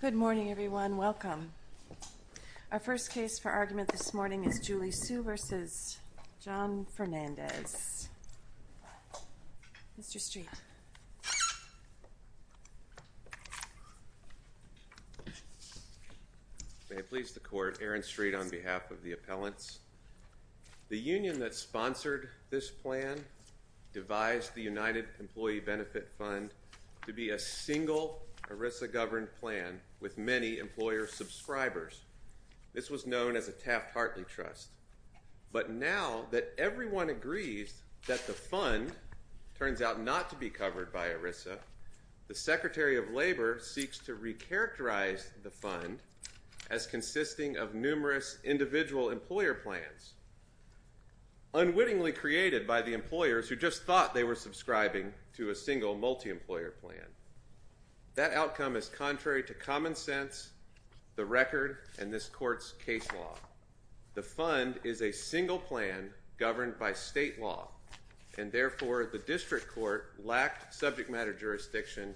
Good morning, everyone. Welcome. Our first case for argument this morning is Julie Su v. John Fernandez. Mr. Street. May it please the Court. Aaron Street on behalf of the appellants. The union that sponsored this plan devised the United Employee Benefit Fund to be a single Arisa governed plan with many employer subscribers. This was known as a Taft Hartley Trust. But now that everyone agrees that the fund turns out not to be covered by Arisa, the Secretary of Labor seeks to recharacterize the fund as consisting of numerous individual employer plans. Unwittingly created by the employers who just thought they were subscribing to a single multi employer plan. That outcome is contrary to common sense, the record, and this court's case law. The fund is a single plan governed by state law, and therefore the district court lacked subject matter jurisdiction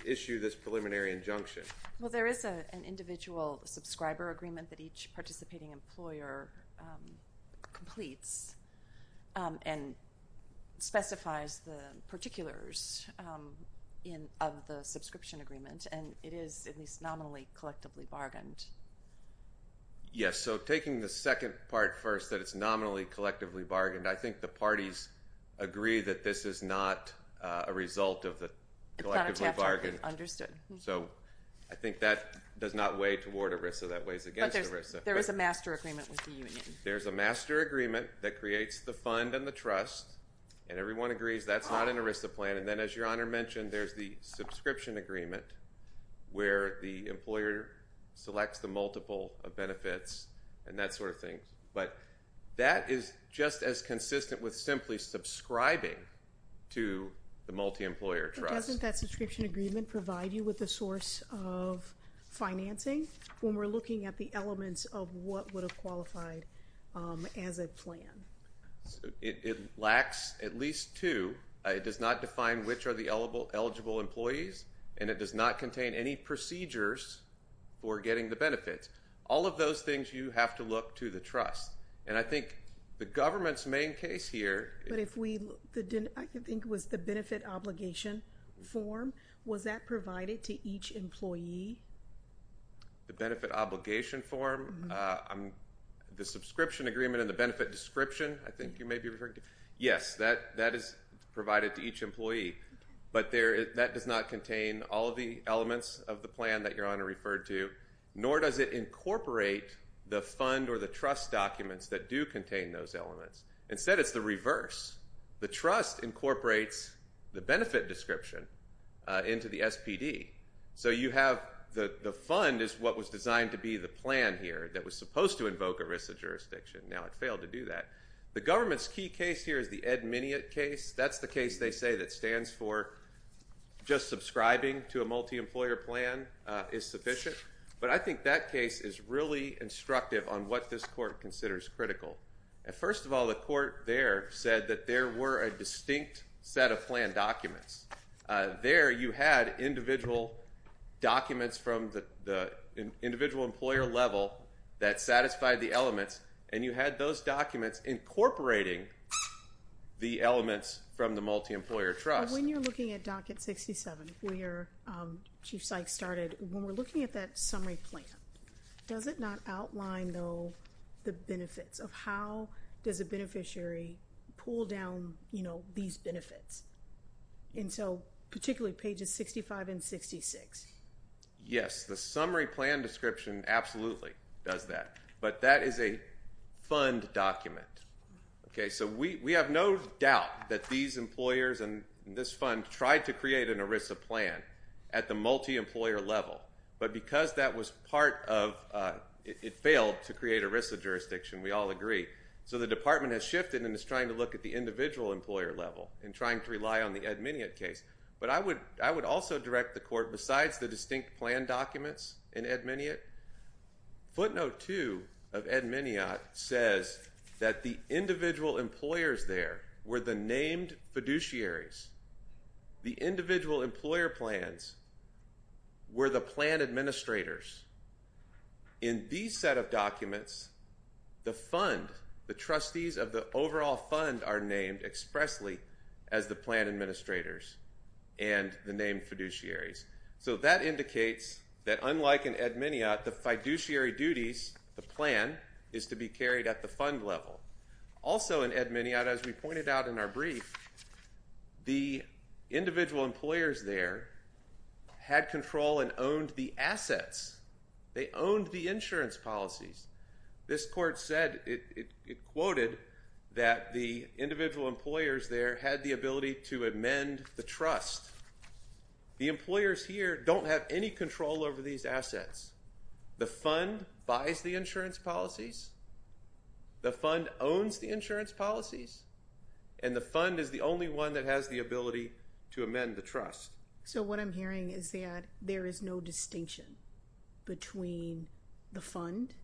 to issue this preliminary injunction. Well, there is an individual subscriber agreement that each participating employer completes and specifies the particulars of the subscription agreement. And it is at least nominally collectively bargained. Yes, so taking the second part first, that it's nominally collectively bargained, I think the parties agree that this is not a result of the collectively bargained. So I think that does not weigh toward Arisa, that weighs against Arisa. But there is a master agreement with the union. There's a master agreement that creates the fund and the trust, and everyone agrees that's not an Arisa plan. And then as Your Honor mentioned, there's the subscription agreement where the employer selects the multiple benefits and that sort of thing. But that is just as consistent with simply subscribing to the multi employer trust. Doesn't that subscription agreement provide you with a source of financing when we're looking at the elements of what would have qualified as a plan? It lacks at least two. It does not define which are the eligible employees, and it does not contain any procedures for getting the benefits. All of those things you have to look to the trust. And I think the government's main case here. I think it was the benefit obligation form. Was that provided to each employee? The benefit obligation form, the subscription agreement and the benefit description, I think you may be referring to. Yes, that is provided to each employee. But that does not contain all of the elements of the plan that Your Honor referred to, nor does it incorporate the fund or the trust documents that do contain those elements. Instead, it's the reverse. The trust incorporates the benefit description into the SPD. So you have the fund is what was designed to be the plan here that was supposed to invoke ERISA jurisdiction. Now it failed to do that. The government's key case here is the Ed Miniot case. That's the case they say that stands for just subscribing to a multi employer plan is sufficient. But I think that case is really instructive on what this court considers critical. First of all, the court there said that there were a distinct set of plan documents. There you had individual documents from the individual employer level that satisfied the elements, and you had those documents incorporating the elements from the multi employer trust. When you're looking at Docket 67, where Chief Sykes started, when we're looking at that summary plan, does it not outline, though, the benefits of how does a beneficiary pull down these benefits? And so particularly pages 65 and 66. Yes, the summary plan description absolutely does that. But that is a fund document. So we have no doubt that these employers and this fund tried to create an ERISA plan at the multi employer level. But because that was part of it failed to create ERISA jurisdiction, we all agree. So the department has shifted and is trying to look at the individual employer level and trying to rely on the Ed Miniot case. But I would also direct the court, besides the distinct plan documents in Ed Miniot, footnote two of Ed Miniot says that the individual employers there were the named fiduciaries. The individual employer plans were the plan administrators. In these set of documents, the fund, the trustees of the overall fund, are named expressly as the plan administrators and the named fiduciaries. So that indicates that unlike in Ed Miniot, the fiduciary duties, the plan, is to be carried at the fund level. Also in Ed Miniot, as we pointed out in our brief, the individual employers there had control and owned the assets. They owned the insurance policies. This court said, it quoted, that the individual employers there had the ability to amend the trust. The employers here don't have any control over these assets. The fund buys the insurance policies. The fund owns the insurance policies. And the fund is the only one that has the ability to amend the trust. So what I'm hearing is that there is no distinction between the fund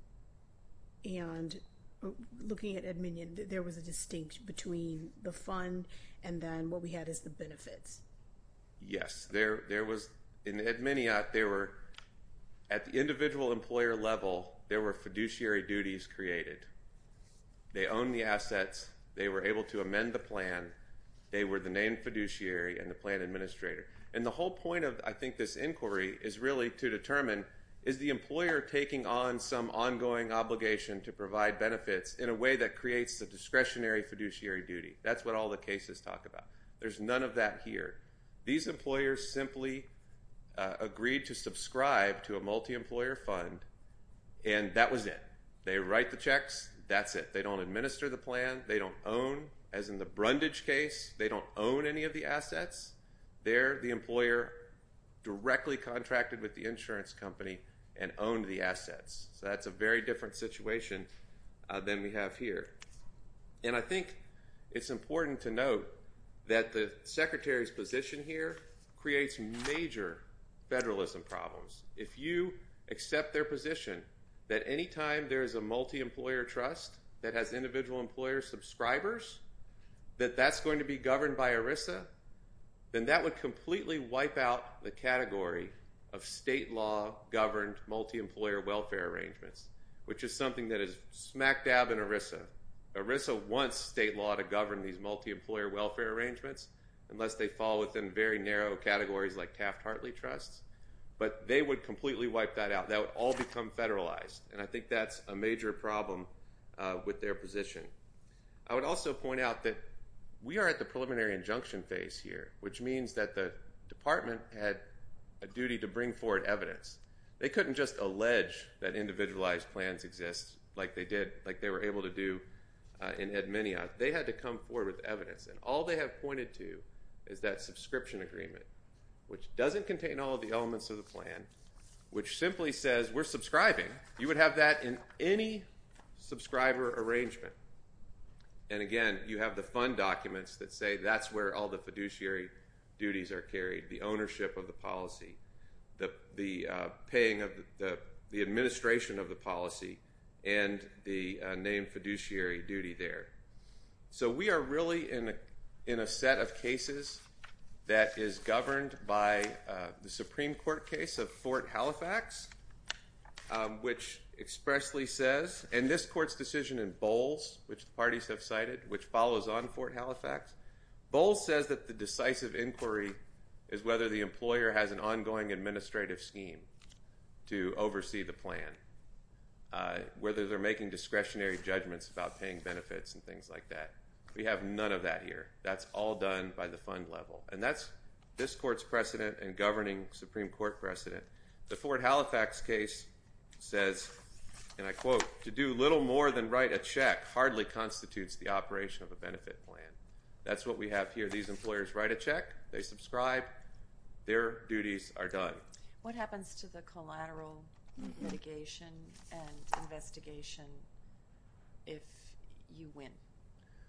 and, looking at Ed Miniot, there was a distinction between the fund and then what we had is the benefits. Yes. There was, in Ed Miniot, there were, at the individual employer level, there were fiduciary duties created. They owned the assets. They were able to amend the plan. They were the named fiduciary and the plan administrator. And the whole point of, I think, this inquiry is really to determine, is the employer taking on some ongoing obligation to provide benefits in a way that creates the discretionary fiduciary duty? That's what all the cases talk about. There's none of that here. These employers simply agreed to subscribe to a multi-employer fund, and that was it. They write the checks. That's it. They don't administer the plan. They don't own, as in the Brundage case, they don't own any of the assets. There, the employer directly contracted with the insurance company and owned the assets. So that's a very different situation than we have here. And I think it's important to note that the Secretary's position here creates major federalism problems. If you accept their position that any time there is a multi-employer trust that has individual employer subscribers, that that's going to be governed by ERISA, then that would completely wipe out the category of state law governed multi-employer welfare arrangements, which is something that is smack dab in ERISA. ERISA wants state law to govern these multi-employer welfare arrangements, unless they fall within very narrow categories like Taft-Hartley trusts. But they would completely wipe that out. That would all become federalized, and I think that's a major problem with their position. I would also point out that we are at the preliminary injunction phase here, which means that the department had a duty to bring forward evidence. They couldn't just allege that individualized plans exist like they did, like they were able to do in Edminia. They had to come forward with evidence, and all they have pointed to is that subscription agreement, which doesn't contain all of the elements of the plan, which simply says we're subscribing. You would have that in any subscriber arrangement. And again, you have the fund documents that say that's where all the fiduciary duties are carried, the ownership of the policy, the administration of the policy, and the named fiduciary duty there. So we are really in a set of cases that is governed by the Supreme Court case of Fort Halifax, which expressly says, and this court's decision in Bowles, which the parties have cited, which follows on Fort Halifax, Bowles says that the decisive inquiry is whether the employer has an ongoing administrative scheme to oversee the plan, whether they're making discretionary judgments about paying benefits and things like that. We have none of that here. That's all done by the fund level, and that's this court's precedent and governing Supreme Court precedent. The Fort Halifax case says, and I quote, to do little more than write a check hardly constitutes the operation of a benefit plan. That's what we have here. These employers write a check, they subscribe, their duties are done. What happens to the collateral litigation and investigation if you win?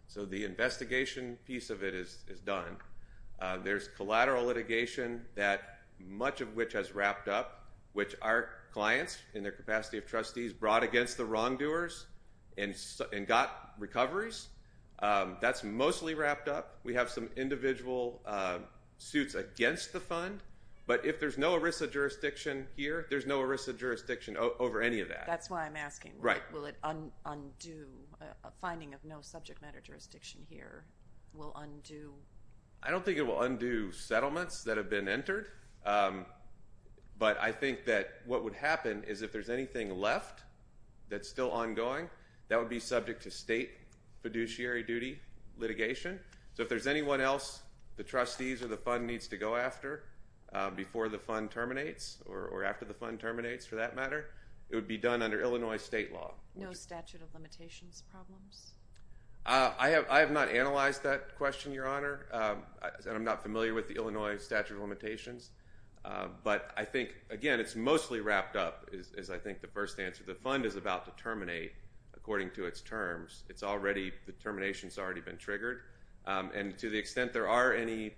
So the investigation piece of it is done. There's collateral litigation that much of which has wrapped up, which our clients in their capacity of trustees brought against the wrongdoers and got recoveries. That's mostly wrapped up. We have some individual suits against the fund, but if there's no ERISA jurisdiction here, there's no ERISA jurisdiction over any of that. That's why I'm asking. Right. Will it undo? A finding of no subject matter jurisdiction here will undo? I don't think it will undo settlements that have been entered, but I think that what would happen is if there's anything left that's still ongoing, that would be subject to state fiduciary duty litigation. So if there's anyone else the trustees or the fund needs to go after before the fund terminates or after the fund terminates for that matter, it would be done under Illinois state law. No statute of limitations problems? I have not analyzed that question, Your Honor, and I'm not familiar with the Illinois statute of limitations. But I think, again, it's mostly wrapped up is, I think, the first answer. The fund is about to terminate according to its terms. The termination has already been triggered. And to the extent there are any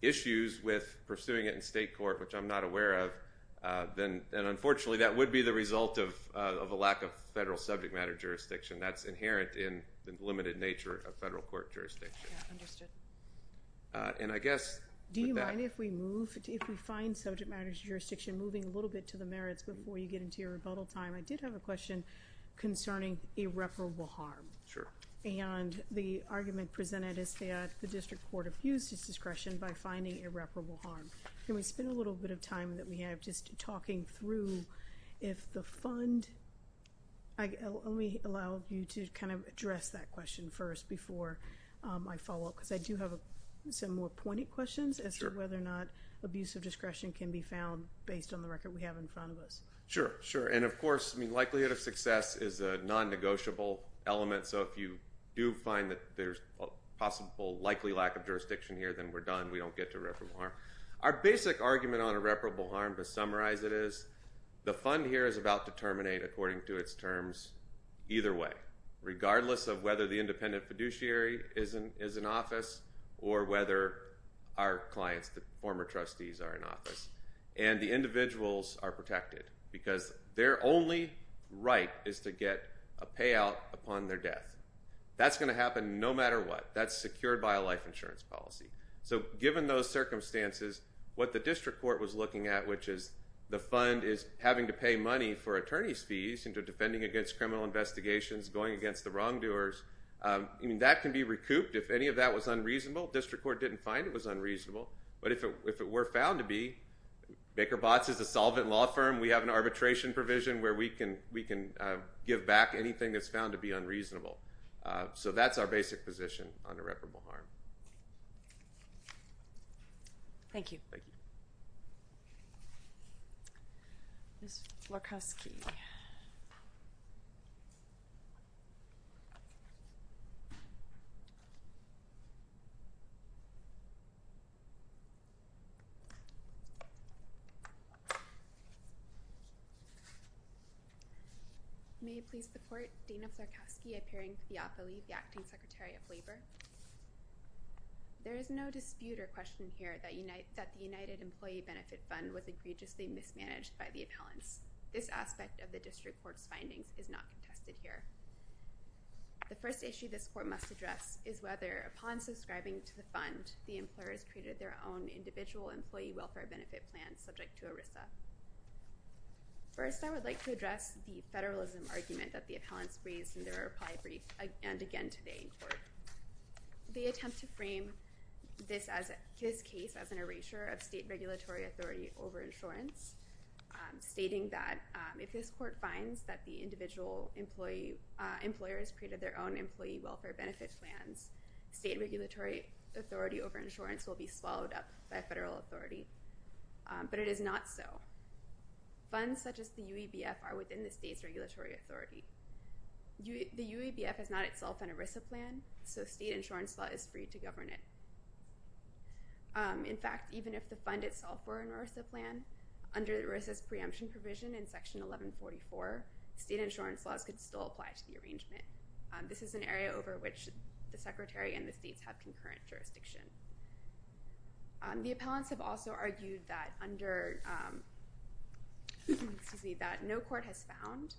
issues with pursuing it in state court, which I'm not aware of, then unfortunately that would be the result of a lack of federal subject matter jurisdiction. That's inherent in the limited nature of federal court jurisdiction. Yeah, understood. And I guess with that— Do you mind if we move, if we find subject matter jurisdiction, moving a little bit to the merits before you get into your rebuttal time? I did have a question concerning irreparable harm. Sure. And the argument presented is that the district court abused its discretion by finding irreparable harm. Can we spend a little bit of time that we have just talking through if the fund— Let me allow you to kind of address that question first before I follow up, because I do have some more pointed questions as to whether or not abuse of discretion can be found based on the record we have in front of us. Sure, sure. And, of course, likelihood of success is a non-negotiable element. So if you do find that there's a possible likely lack of jurisdiction here, then we're done. We don't get to irreparable harm. Our basic argument on irreparable harm, to summarize it is, the fund here is about to terminate according to its terms either way, regardless of whether the independent fiduciary is in office or whether our clients, the former trustees, are in office. And the individuals are protected because their only right is to get a payout upon their death. That's going to happen no matter what. That's secured by a life insurance policy. So given those circumstances, what the district court was looking at, which is the fund is having to pay money for attorney's fees into defending against criminal investigations, going against the wrongdoers, that can be recouped if any of that was unreasonable. District court didn't find it was unreasonable. But if it were found to be, Baker Botts is a solvent law firm. We have an arbitration provision where we can give back anything that's found to be unreasonable. So that's our basic position on irreparable harm. Thank you. Ms. Florkowski. May I please report? Dana Florkowski, appearing for the affiliate, the acting secretary of labor. There is no dispute or question here that the United Employee Benefit Fund was egregiously mismanaged by the appellants. This aspect of the district court's findings is not contested here. The first issue this court must address is whether, upon subscribing to the fund, the employers created their own individual employee welfare benefit plan subject to ERISA. First, I would like to address the federalism argument that the appellants raised in their reply brief and again today in court. They attempt to frame this case as an erasure of state regulatory authority over insurance, stating that if this court finds that the individual employers created their own employee welfare benefit plans, state regulatory authority over insurance will be swallowed up by federal authority. But it is not so. Funds such as the UEBF are within the state's regulatory authority. The UEBF is not itself an ERISA plan, so state insurance law is free to govern it. In fact, even if the fund itself were an ERISA plan, under ERISA's preemption provision in Section 1144, state insurance laws could still apply to the arrangement. This is an area over which the Secretary and the states have concurrent jurisdiction. The appellants have also argued that no court has found,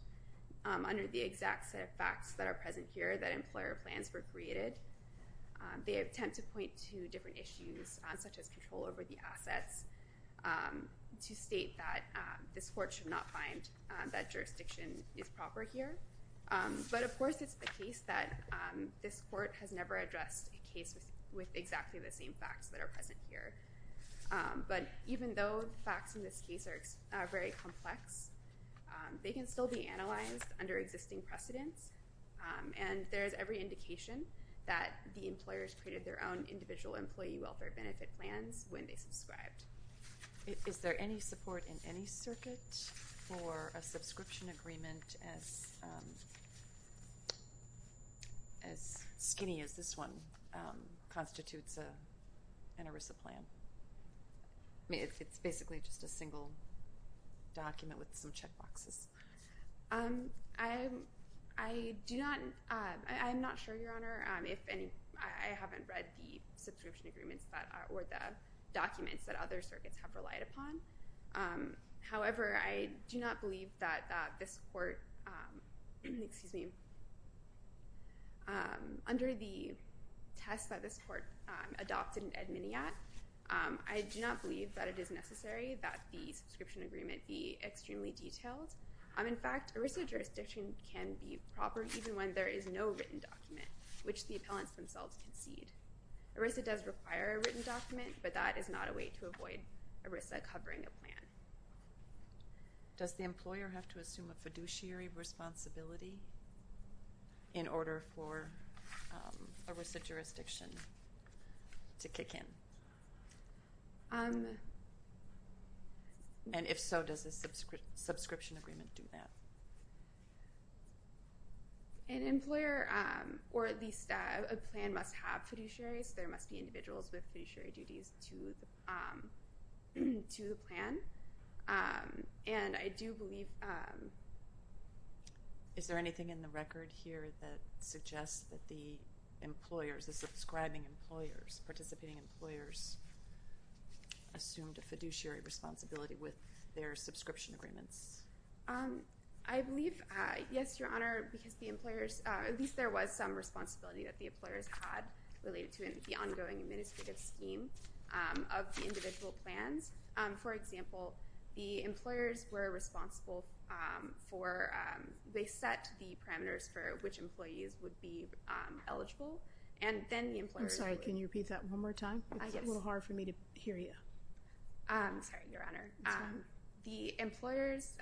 under the exact set of facts that are present here, that employer plans were created. They attempt to point to different issues, such as control over the assets, to state that this court should not find that jurisdiction is proper here. But, of course, it's the case that this court has never addressed a case with exactly the same facts that are present here. But even though the facts in this case are very complex, they can still be analyzed under existing precedents, and there is every indication that the employers created their own individual employee welfare benefit plans when they subscribed. Is there any support in any circuit for a subscription agreement as skinny as this one constitutes an ERISA plan? I mean, it's basically just a single document with some checkboxes. I'm not sure, Your Honor, if any. I haven't read the subscription agreements or the documents that other circuits have relied upon. However, I do not believe that this court, excuse me, under the test that this court adopted in Edminiat, I do not believe that it is necessary that the subscription agreement be extremely detailed. In fact, ERISA jurisdiction can be proper even when there is no written document, which the appellants themselves concede. ERISA does require a written document, but that is not a way to avoid ERISA covering a plan. Does the employer have to assume a fiduciary responsibility in order for ERISA jurisdiction to kick in? And if so, does the subscription agreement do that? An employer, or at least a plan, must have fiduciaries. There must be individuals with fiduciary duties to the plan. And I do believe... Is there anything in the record here that suggests that the employers, the subscribing employers, participating employers assumed a fiduciary responsibility with their subscription agreements? I believe, yes, Your Honor, because the employers, at least there was some responsibility that the employers had related to the ongoing administrative scheme of the individual plans. For example, the employers were responsible for, they set the parameters for which employees would be eligible, and then the employers... I'm sorry, can you repeat that one more time? It's a little hard for me to hear you. Sorry, Your Honor. It's fine. The employers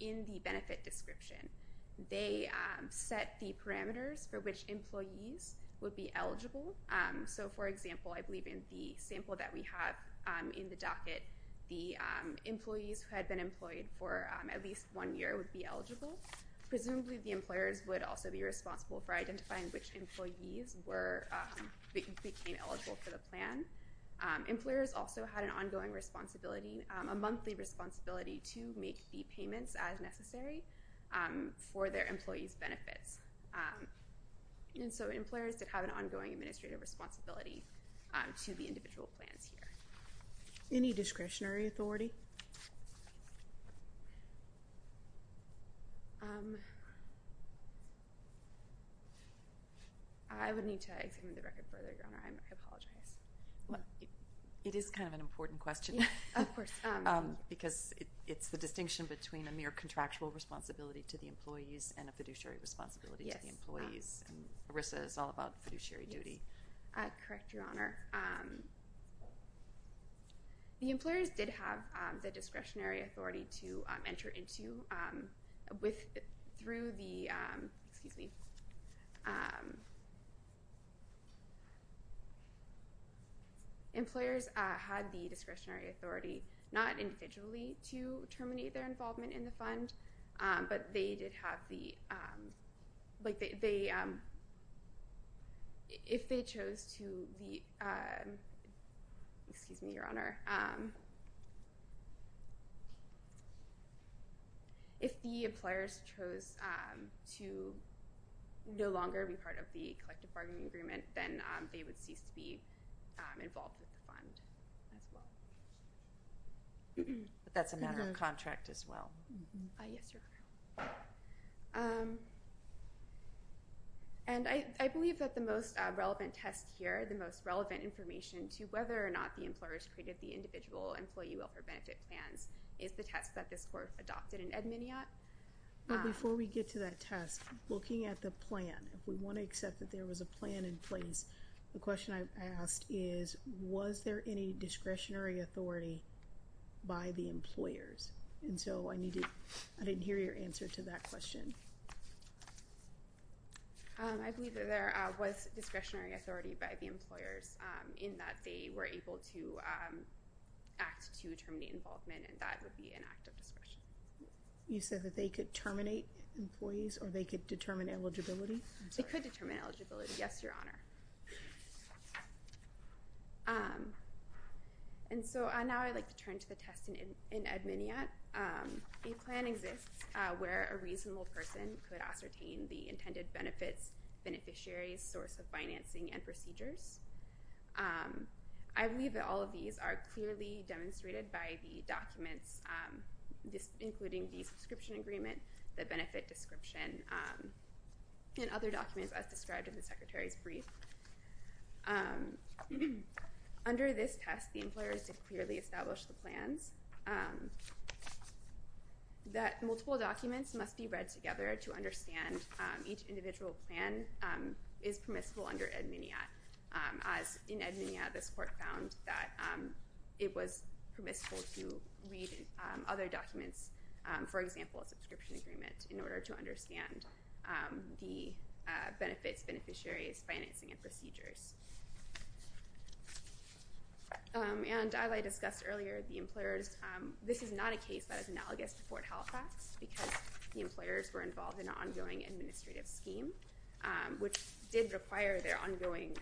in the benefit description, they set the parameters for which employees would be eligible. So, for example, I believe in the sample that we have in the docket, the employees who had been employed for at least one year would be eligible. Presumably, the employers would also be responsible for identifying which employees became eligible for the plan. Employers also had an ongoing responsibility, a monthly responsibility to make the payments as necessary for their employees' benefits. And so employers did have an ongoing administrative responsibility to the individual plans here. Any discretionary authority? I would need to examine the record further, Your Honor. I apologize. It is kind of an important question. Yes, of course. Because it's the distinction between a mere contractual responsibility to the employees and a fiduciary responsibility to the employees. Yes. And ERISA is all about fiduciary duty. Correct, Your Honor. The employers did have the discretionary authority to enter into through the... Excuse me. Employers had the discretionary authority not individually to terminate their involvement in the fund, but they did have the... If they chose to... Your Honor, if the employers chose to no longer be part of the collective bargaining agreement, then they would cease to be involved with the fund as well. But that's a matter of contract as well. Yes, Your Honor. And I believe that the most relevant test here, the most relevant information to whether or not the employers created the individual employee welfare benefit plans, is the test that this Court adopted in Edmoniot. But before we get to that test, looking at the plan, if we want to accept that there was a plan in place, the question I asked is, was there any discretionary authority by the employers? And so I didn't hear your answer to that question. I believe that there was discretionary authority by the employers in that they were able to act to terminate involvement, and that would be an act of discretion. You said that they could terminate employees or they could determine eligibility? They could determine eligibility, yes, Your Honor. And so now I'd like to turn to the test in Edmoniot. A plan exists where a reasonable person could ascertain the intended benefits, beneficiaries, source of financing, and procedures. I believe that all of these are clearly demonstrated by the documents, including the subscription agreement, the benefit description, and other documents as described in the Secretary's brief. Under this test, the employers did clearly establish the plans. That multiple documents must be read together to understand each individual plan is permissible under Edmoniot. As in Edmoniot, this court found that it was permissible to read other documents, for example, a subscription agreement, in order to understand the benefits, beneficiaries, financing, and procedures. And as I discussed earlier, the employers, this is not a case that is analogous to Fort Halifax, because the employers were involved in an ongoing administrative scheme, which did require their ongoing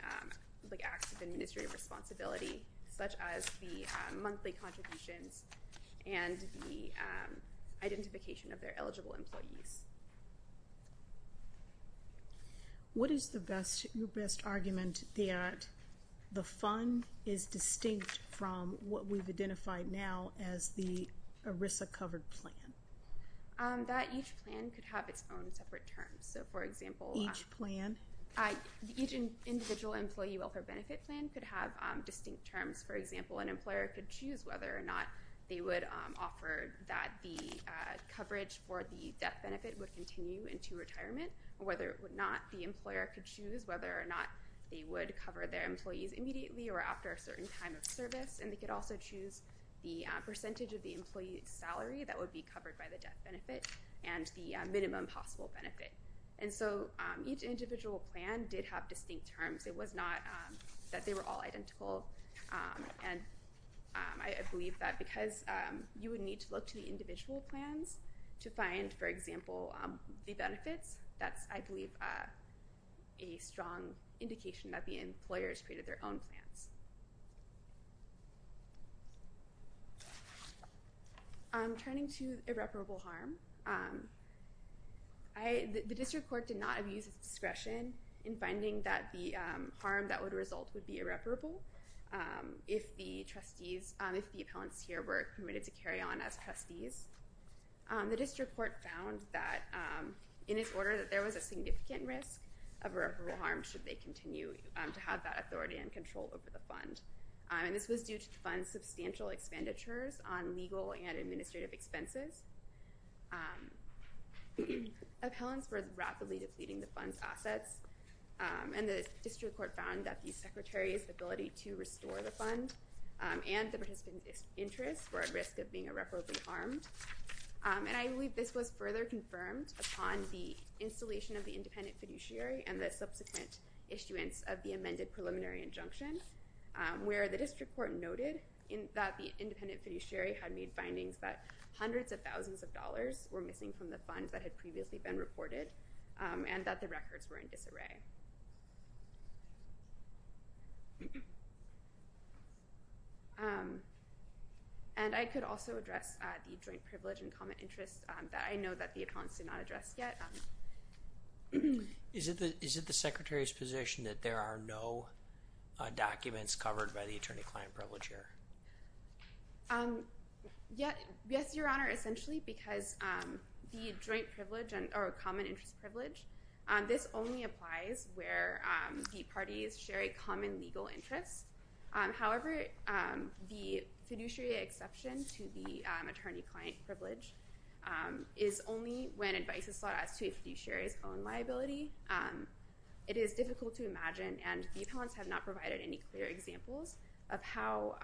acts of administrative responsibility, such as the monthly contributions and the identification of their eligible employees. What is your best argument that the fund is distinct from what we've identified now as the ERISA-covered plan? That each plan could have its own separate terms. So, for example, each plan? Each individual employee welfare benefit plan could have distinct terms. For example, an employer could choose whether or not they would offer that the coverage for the death benefit would continue into retirement, or whether or not the employer could choose whether or not they would cover their employees immediately or after a certain time of service. And they could also choose the percentage of the employee salary that would be covered by the death benefit and the minimum possible benefit. And so each individual plan did have distinct terms. It was not that they were all identical. And I believe that because you would need to look to the individual plans to find, for example, the benefits, that's, I believe, a strong indication that the employers created their own plans. Turning to irreparable harm. The district court did not use its discretion in finding that the harm that would result would be irreparable if the trustees, if the appellants here were permitted to carry on as trustees. The district court found that in its order that there was a significant risk of irreparable harm should they continue to have that authority and control over the fund. And this was due to the fund's substantial expenditures on legal and administrative expenses. Appellants were rapidly depleting the fund's assets. And the district court found that the secretary's ability to restore the fund and the participant's interest were at risk of being irreparably harmed. And I believe this was further confirmed upon the installation of the independent fiduciary and the subsequent issuance of the amended preliminary injunction, where the district court noted that the independent fiduciary had made findings that hundreds of thousands of dollars were missing from the funds that had previously been reported and that the records were in disarray. And I could also address the joint privilege and common interest that I know that the appellants did not address yet. Is it the secretary's position that there are no documents covered by the attorney-client privilege here? Yes, Your Honor, essentially, because the joint privilege or common interest privilege, this only applies where the parties share a common legal interest. However, the fiduciary exception to the attorney-client privilege is only when advice is sought as to a fiduciary's own liability. It is difficult to imagine, and the appellants have not provided any clear examples of how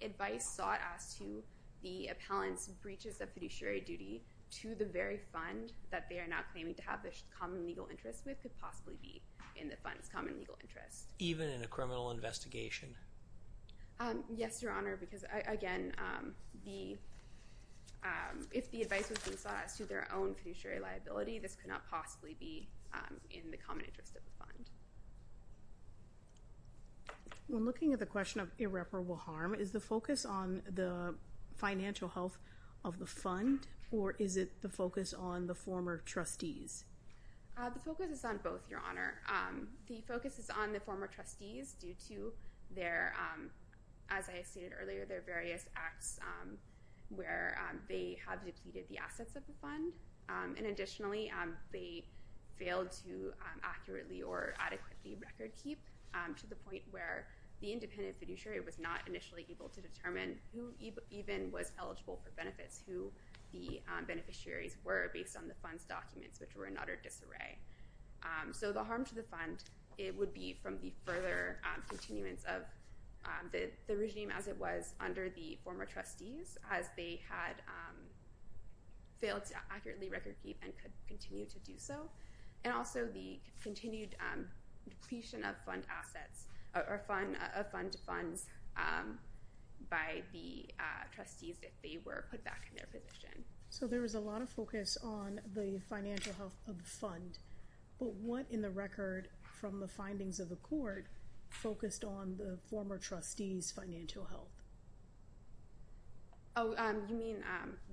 advice sought as to the appellant's breaches of fiduciary duty to the very fund that they are now claiming to have a common legal interest with could possibly be in the fund's common legal interest. Even in a criminal investigation? Yes, Your Honor, because, again, if the advice was sought as to their own fiduciary liability, this could not possibly be in the common interest of the fund. When looking at the question of irreparable harm, is the focus on the financial health of the fund, or is it the focus on the former trustees? The focus is on both, Your Honor. The focus is on the former trustees due to their, as I stated earlier, their various acts where they have depleted the assets of the fund. And additionally, they failed to accurately or adequately record keep to the point where the independent fiduciary was not initially able to determine who even was eligible for benefits, who the beneficiaries were based on the fund's documents, which were an utter disarray. So the harm to the fund, it would be from the further continuance of the regime as it was under the former trustees, as they had failed to accurately record keep and could continue to do so. And also the continued depletion of fund assets, of fund funds by the trustees if they were put back in their position. So there was a lot of focus on the financial health of the fund. But what in the record from the findings of the court focused on the former trustees' financial health? Oh, you mean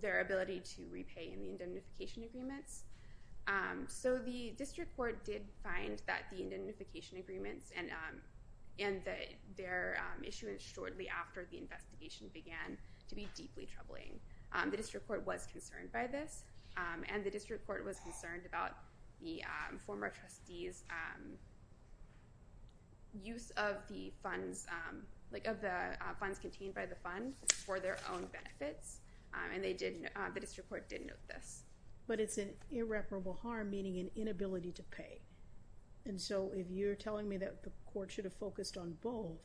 their ability to repay in the indemnification agreements? So the district court did find that the indemnification agreements and their issuance shortly after the investigation began to be deeply troubling. The district court was concerned by this. And the district court was concerned about the former trustees' use of the funds, like of the funds contained by the fund for their own benefits. And they did, the district court did note this. But it's an irreparable harm, meaning an inability to pay. And so if you're telling me that the court should have focused on both,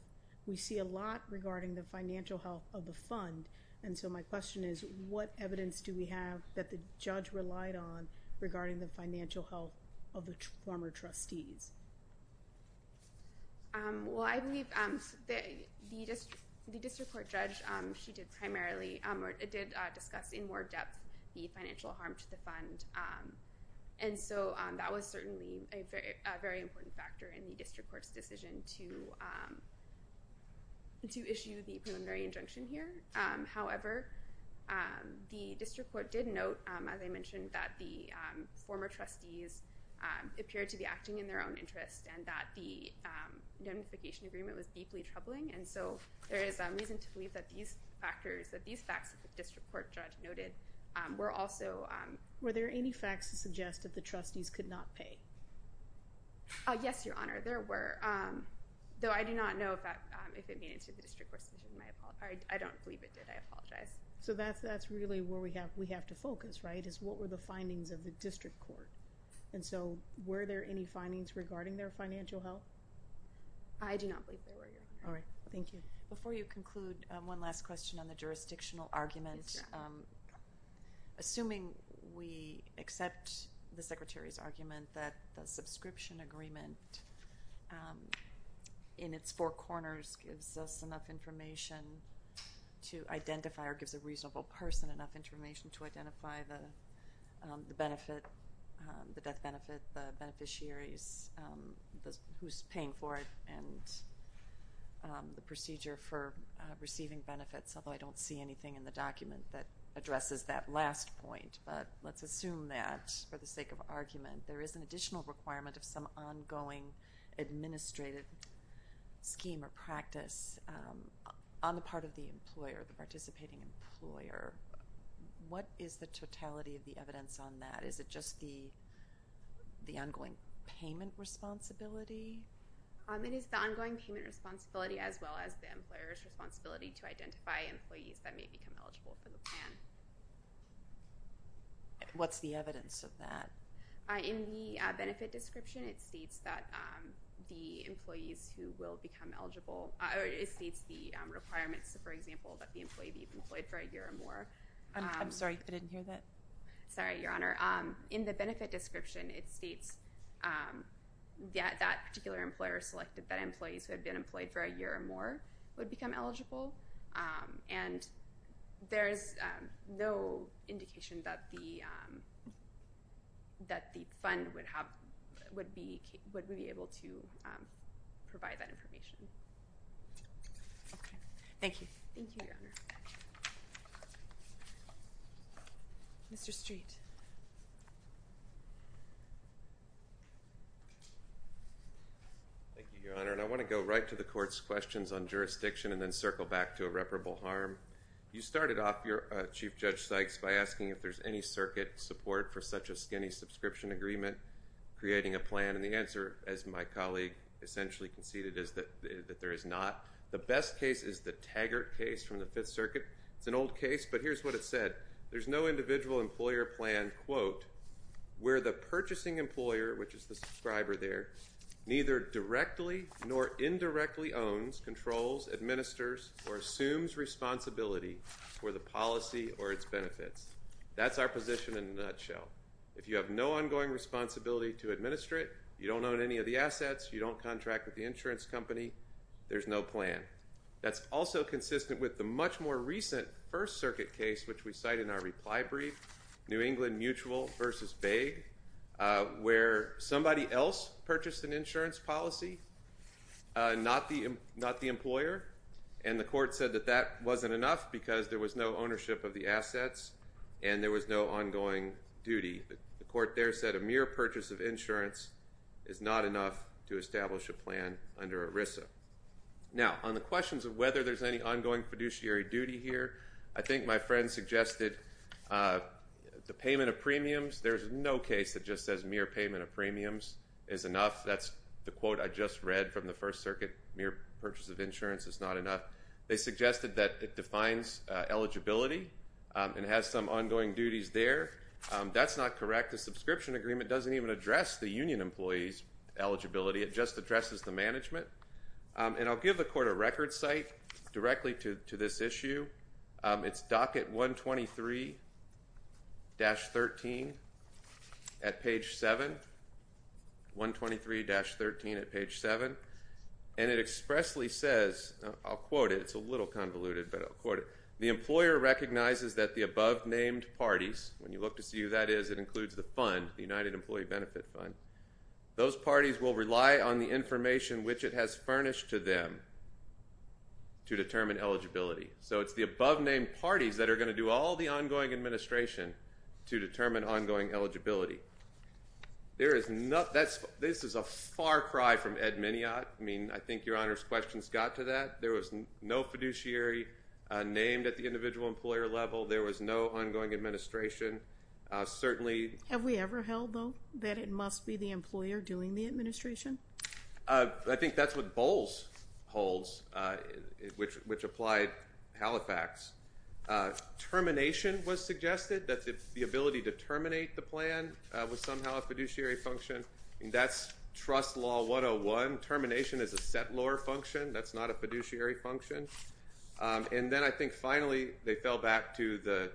we see a lot regarding the financial health of the fund. And so my question is, what evidence do we have that the judge relied on regarding the financial health of the former trustees? Well, I believe the district court judge, she did primarily, or did discuss in more depth the financial harm to the fund. And so that was certainly a very important factor in the district court's decision to issue the preliminary injunction here. However, the district court did note, as I mentioned, that the former trustees appeared to be acting in their own interest, and that the indemnification agreement was deeply troubling. And so there is reason to believe that these factors, that these facts that the district court judge noted were also— Were there any facts to suggest that the trustees could not pay? Yes, Your Honor, there were. Though I do not know if it made it to the district court's decision. I don't believe it did. I apologize. So that's really where we have to focus, right, is what were the findings of the district court? And so were there any findings regarding their financial health? I do not believe there were, Your Honor. All right. Thank you. Before you conclude, one last question on the jurisdictional argument. Assuming we accept the Secretary's argument that the subscription agreement in its four corners gives us enough information to identify or gives a reasonable person enough information to identify the benefit, the death benefit, the beneficiaries, who's paying for it, and the procedure for receiving benefits, although I don't see anything in the document that addresses that last point. But let's assume that, for the sake of argument, there is an additional requirement of some ongoing administrative scheme or practice on the part of the employer, the participating employer. What is the totality of the evidence on that? Is it just the ongoing payment responsibility? It is the ongoing payment responsibility as well as the employer's responsibility to identify employees that may become eligible for the plan. What's the evidence of that? In the benefit description, it states that the employees who will become eligible. It states the requirements, for example, that the employee be employed for a year or more. I'm sorry. I didn't hear that. Sorry, Your Honor. In the benefit description, it states that that particular employer selected that employees who had been employed for a year or more would become eligible. And there is no indication that the fund would be able to provide that information. Okay. Thank you. Thank you, Your Honor. Mr. Street. Thank you, Your Honor. And I want to go right to the court's questions on jurisdiction and then circle back to irreparable harm. You started off, Chief Judge Sykes, by asking if there's any circuit support for such a skinny subscription agreement creating a plan. And the answer, as my colleague essentially conceded, is that there is not. The best case is the Taggart case from the Fifth Circuit. It's an old case, but here's what it said. There's no individual employer plan, quote, where the purchasing employer, which is the subscriber there, neither directly nor indirectly owns, controls, administers, or assumes responsibility for the policy or its benefits. That's our position in a nutshell. If you have no ongoing responsibility to administer it, you don't own any of the assets, you don't contract with the insurance company, there's no plan. That's also consistent with the much more recent First Circuit case, which we cite in our reply brief, New England Mutual v. Baig, where somebody else purchased an insurance policy, not the employer, and the court said that that wasn't enough because there was no ownership of the assets and there was no ongoing duty. The court there said a mere purchase of insurance is not enough to establish a plan under ERISA. Now, on the questions of whether there's any ongoing fiduciary duty here, I think my friend suggested the payment of premiums. There's no case that just says mere payment of premiums is enough. That's the quote I just read from the First Circuit, mere purchase of insurance is not enough. They suggested that it defines eligibility and has some ongoing duties there. That's not correct. The subscription agreement doesn't even address the union employee's eligibility. It just addresses the management. And I'll give the court a record site directly to this issue. It's docket 123-13 at page 7, 123-13 at page 7, and it expressly says, I'll quote it. It's a little convoluted, but I'll quote it. The employer recognizes that the above-named parties, when you look to see who that is, it includes the fund, the United Employee Benefit Fund. Those parties will rely on the information which it has furnished to them to determine eligibility. So it's the above-named parties that are going to do all the ongoing administration to determine ongoing eligibility. This is a far cry from Ed Miniot. I mean, I think Your Honor's questions got to that. There was no fiduciary named at the individual employer level. There was no ongoing administration. Certainly. Have we ever held, though, that it must be the employer doing the administration? I think that's what Bowles holds, which applied Halifax. Termination was suggested, that the ability to terminate the plan was somehow a fiduciary function. That's trust law 101. Termination is a settlor function. That's not a fiduciary function. And then I think finally they fell back to the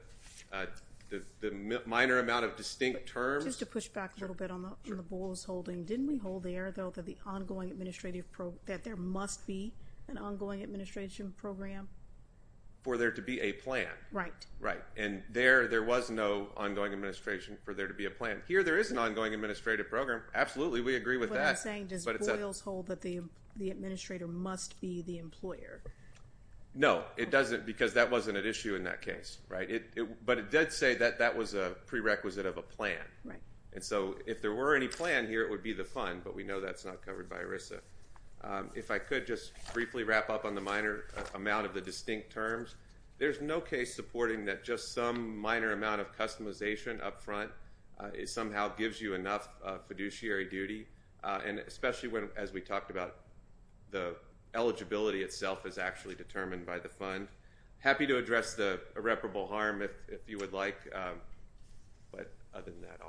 minor amount of distinct terms. Just to push back a little bit on the Bowles holding. Didn't we hold there, though, that there must be an ongoing administration program? For there to be a plan. Right. Right. And there was no ongoing administration for there to be a plan. Here there is an ongoing administrative program. Absolutely, we agree with that. That's what I'm saying. Does Bowles hold that the administrator must be the employer? No, it doesn't, because that wasn't an issue in that case. Right? But it did say that that was a prerequisite of a plan. Right. And so if there were any plan here, it would be the fund, but we know that's not covered by ERISA. If I could just briefly wrap up on the minor amount of the distinct terms. There's no case supporting that just some minor amount of customization up front somehow gives you enough fiduciary duty, and especially as we talked about the eligibility itself is actually determined by the fund. Happy to address the irreparable harm if you would like, but other than that,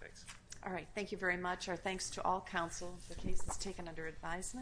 thanks. All right. Thank you very much. Our thanks to all counsel. The case is taken under advisement.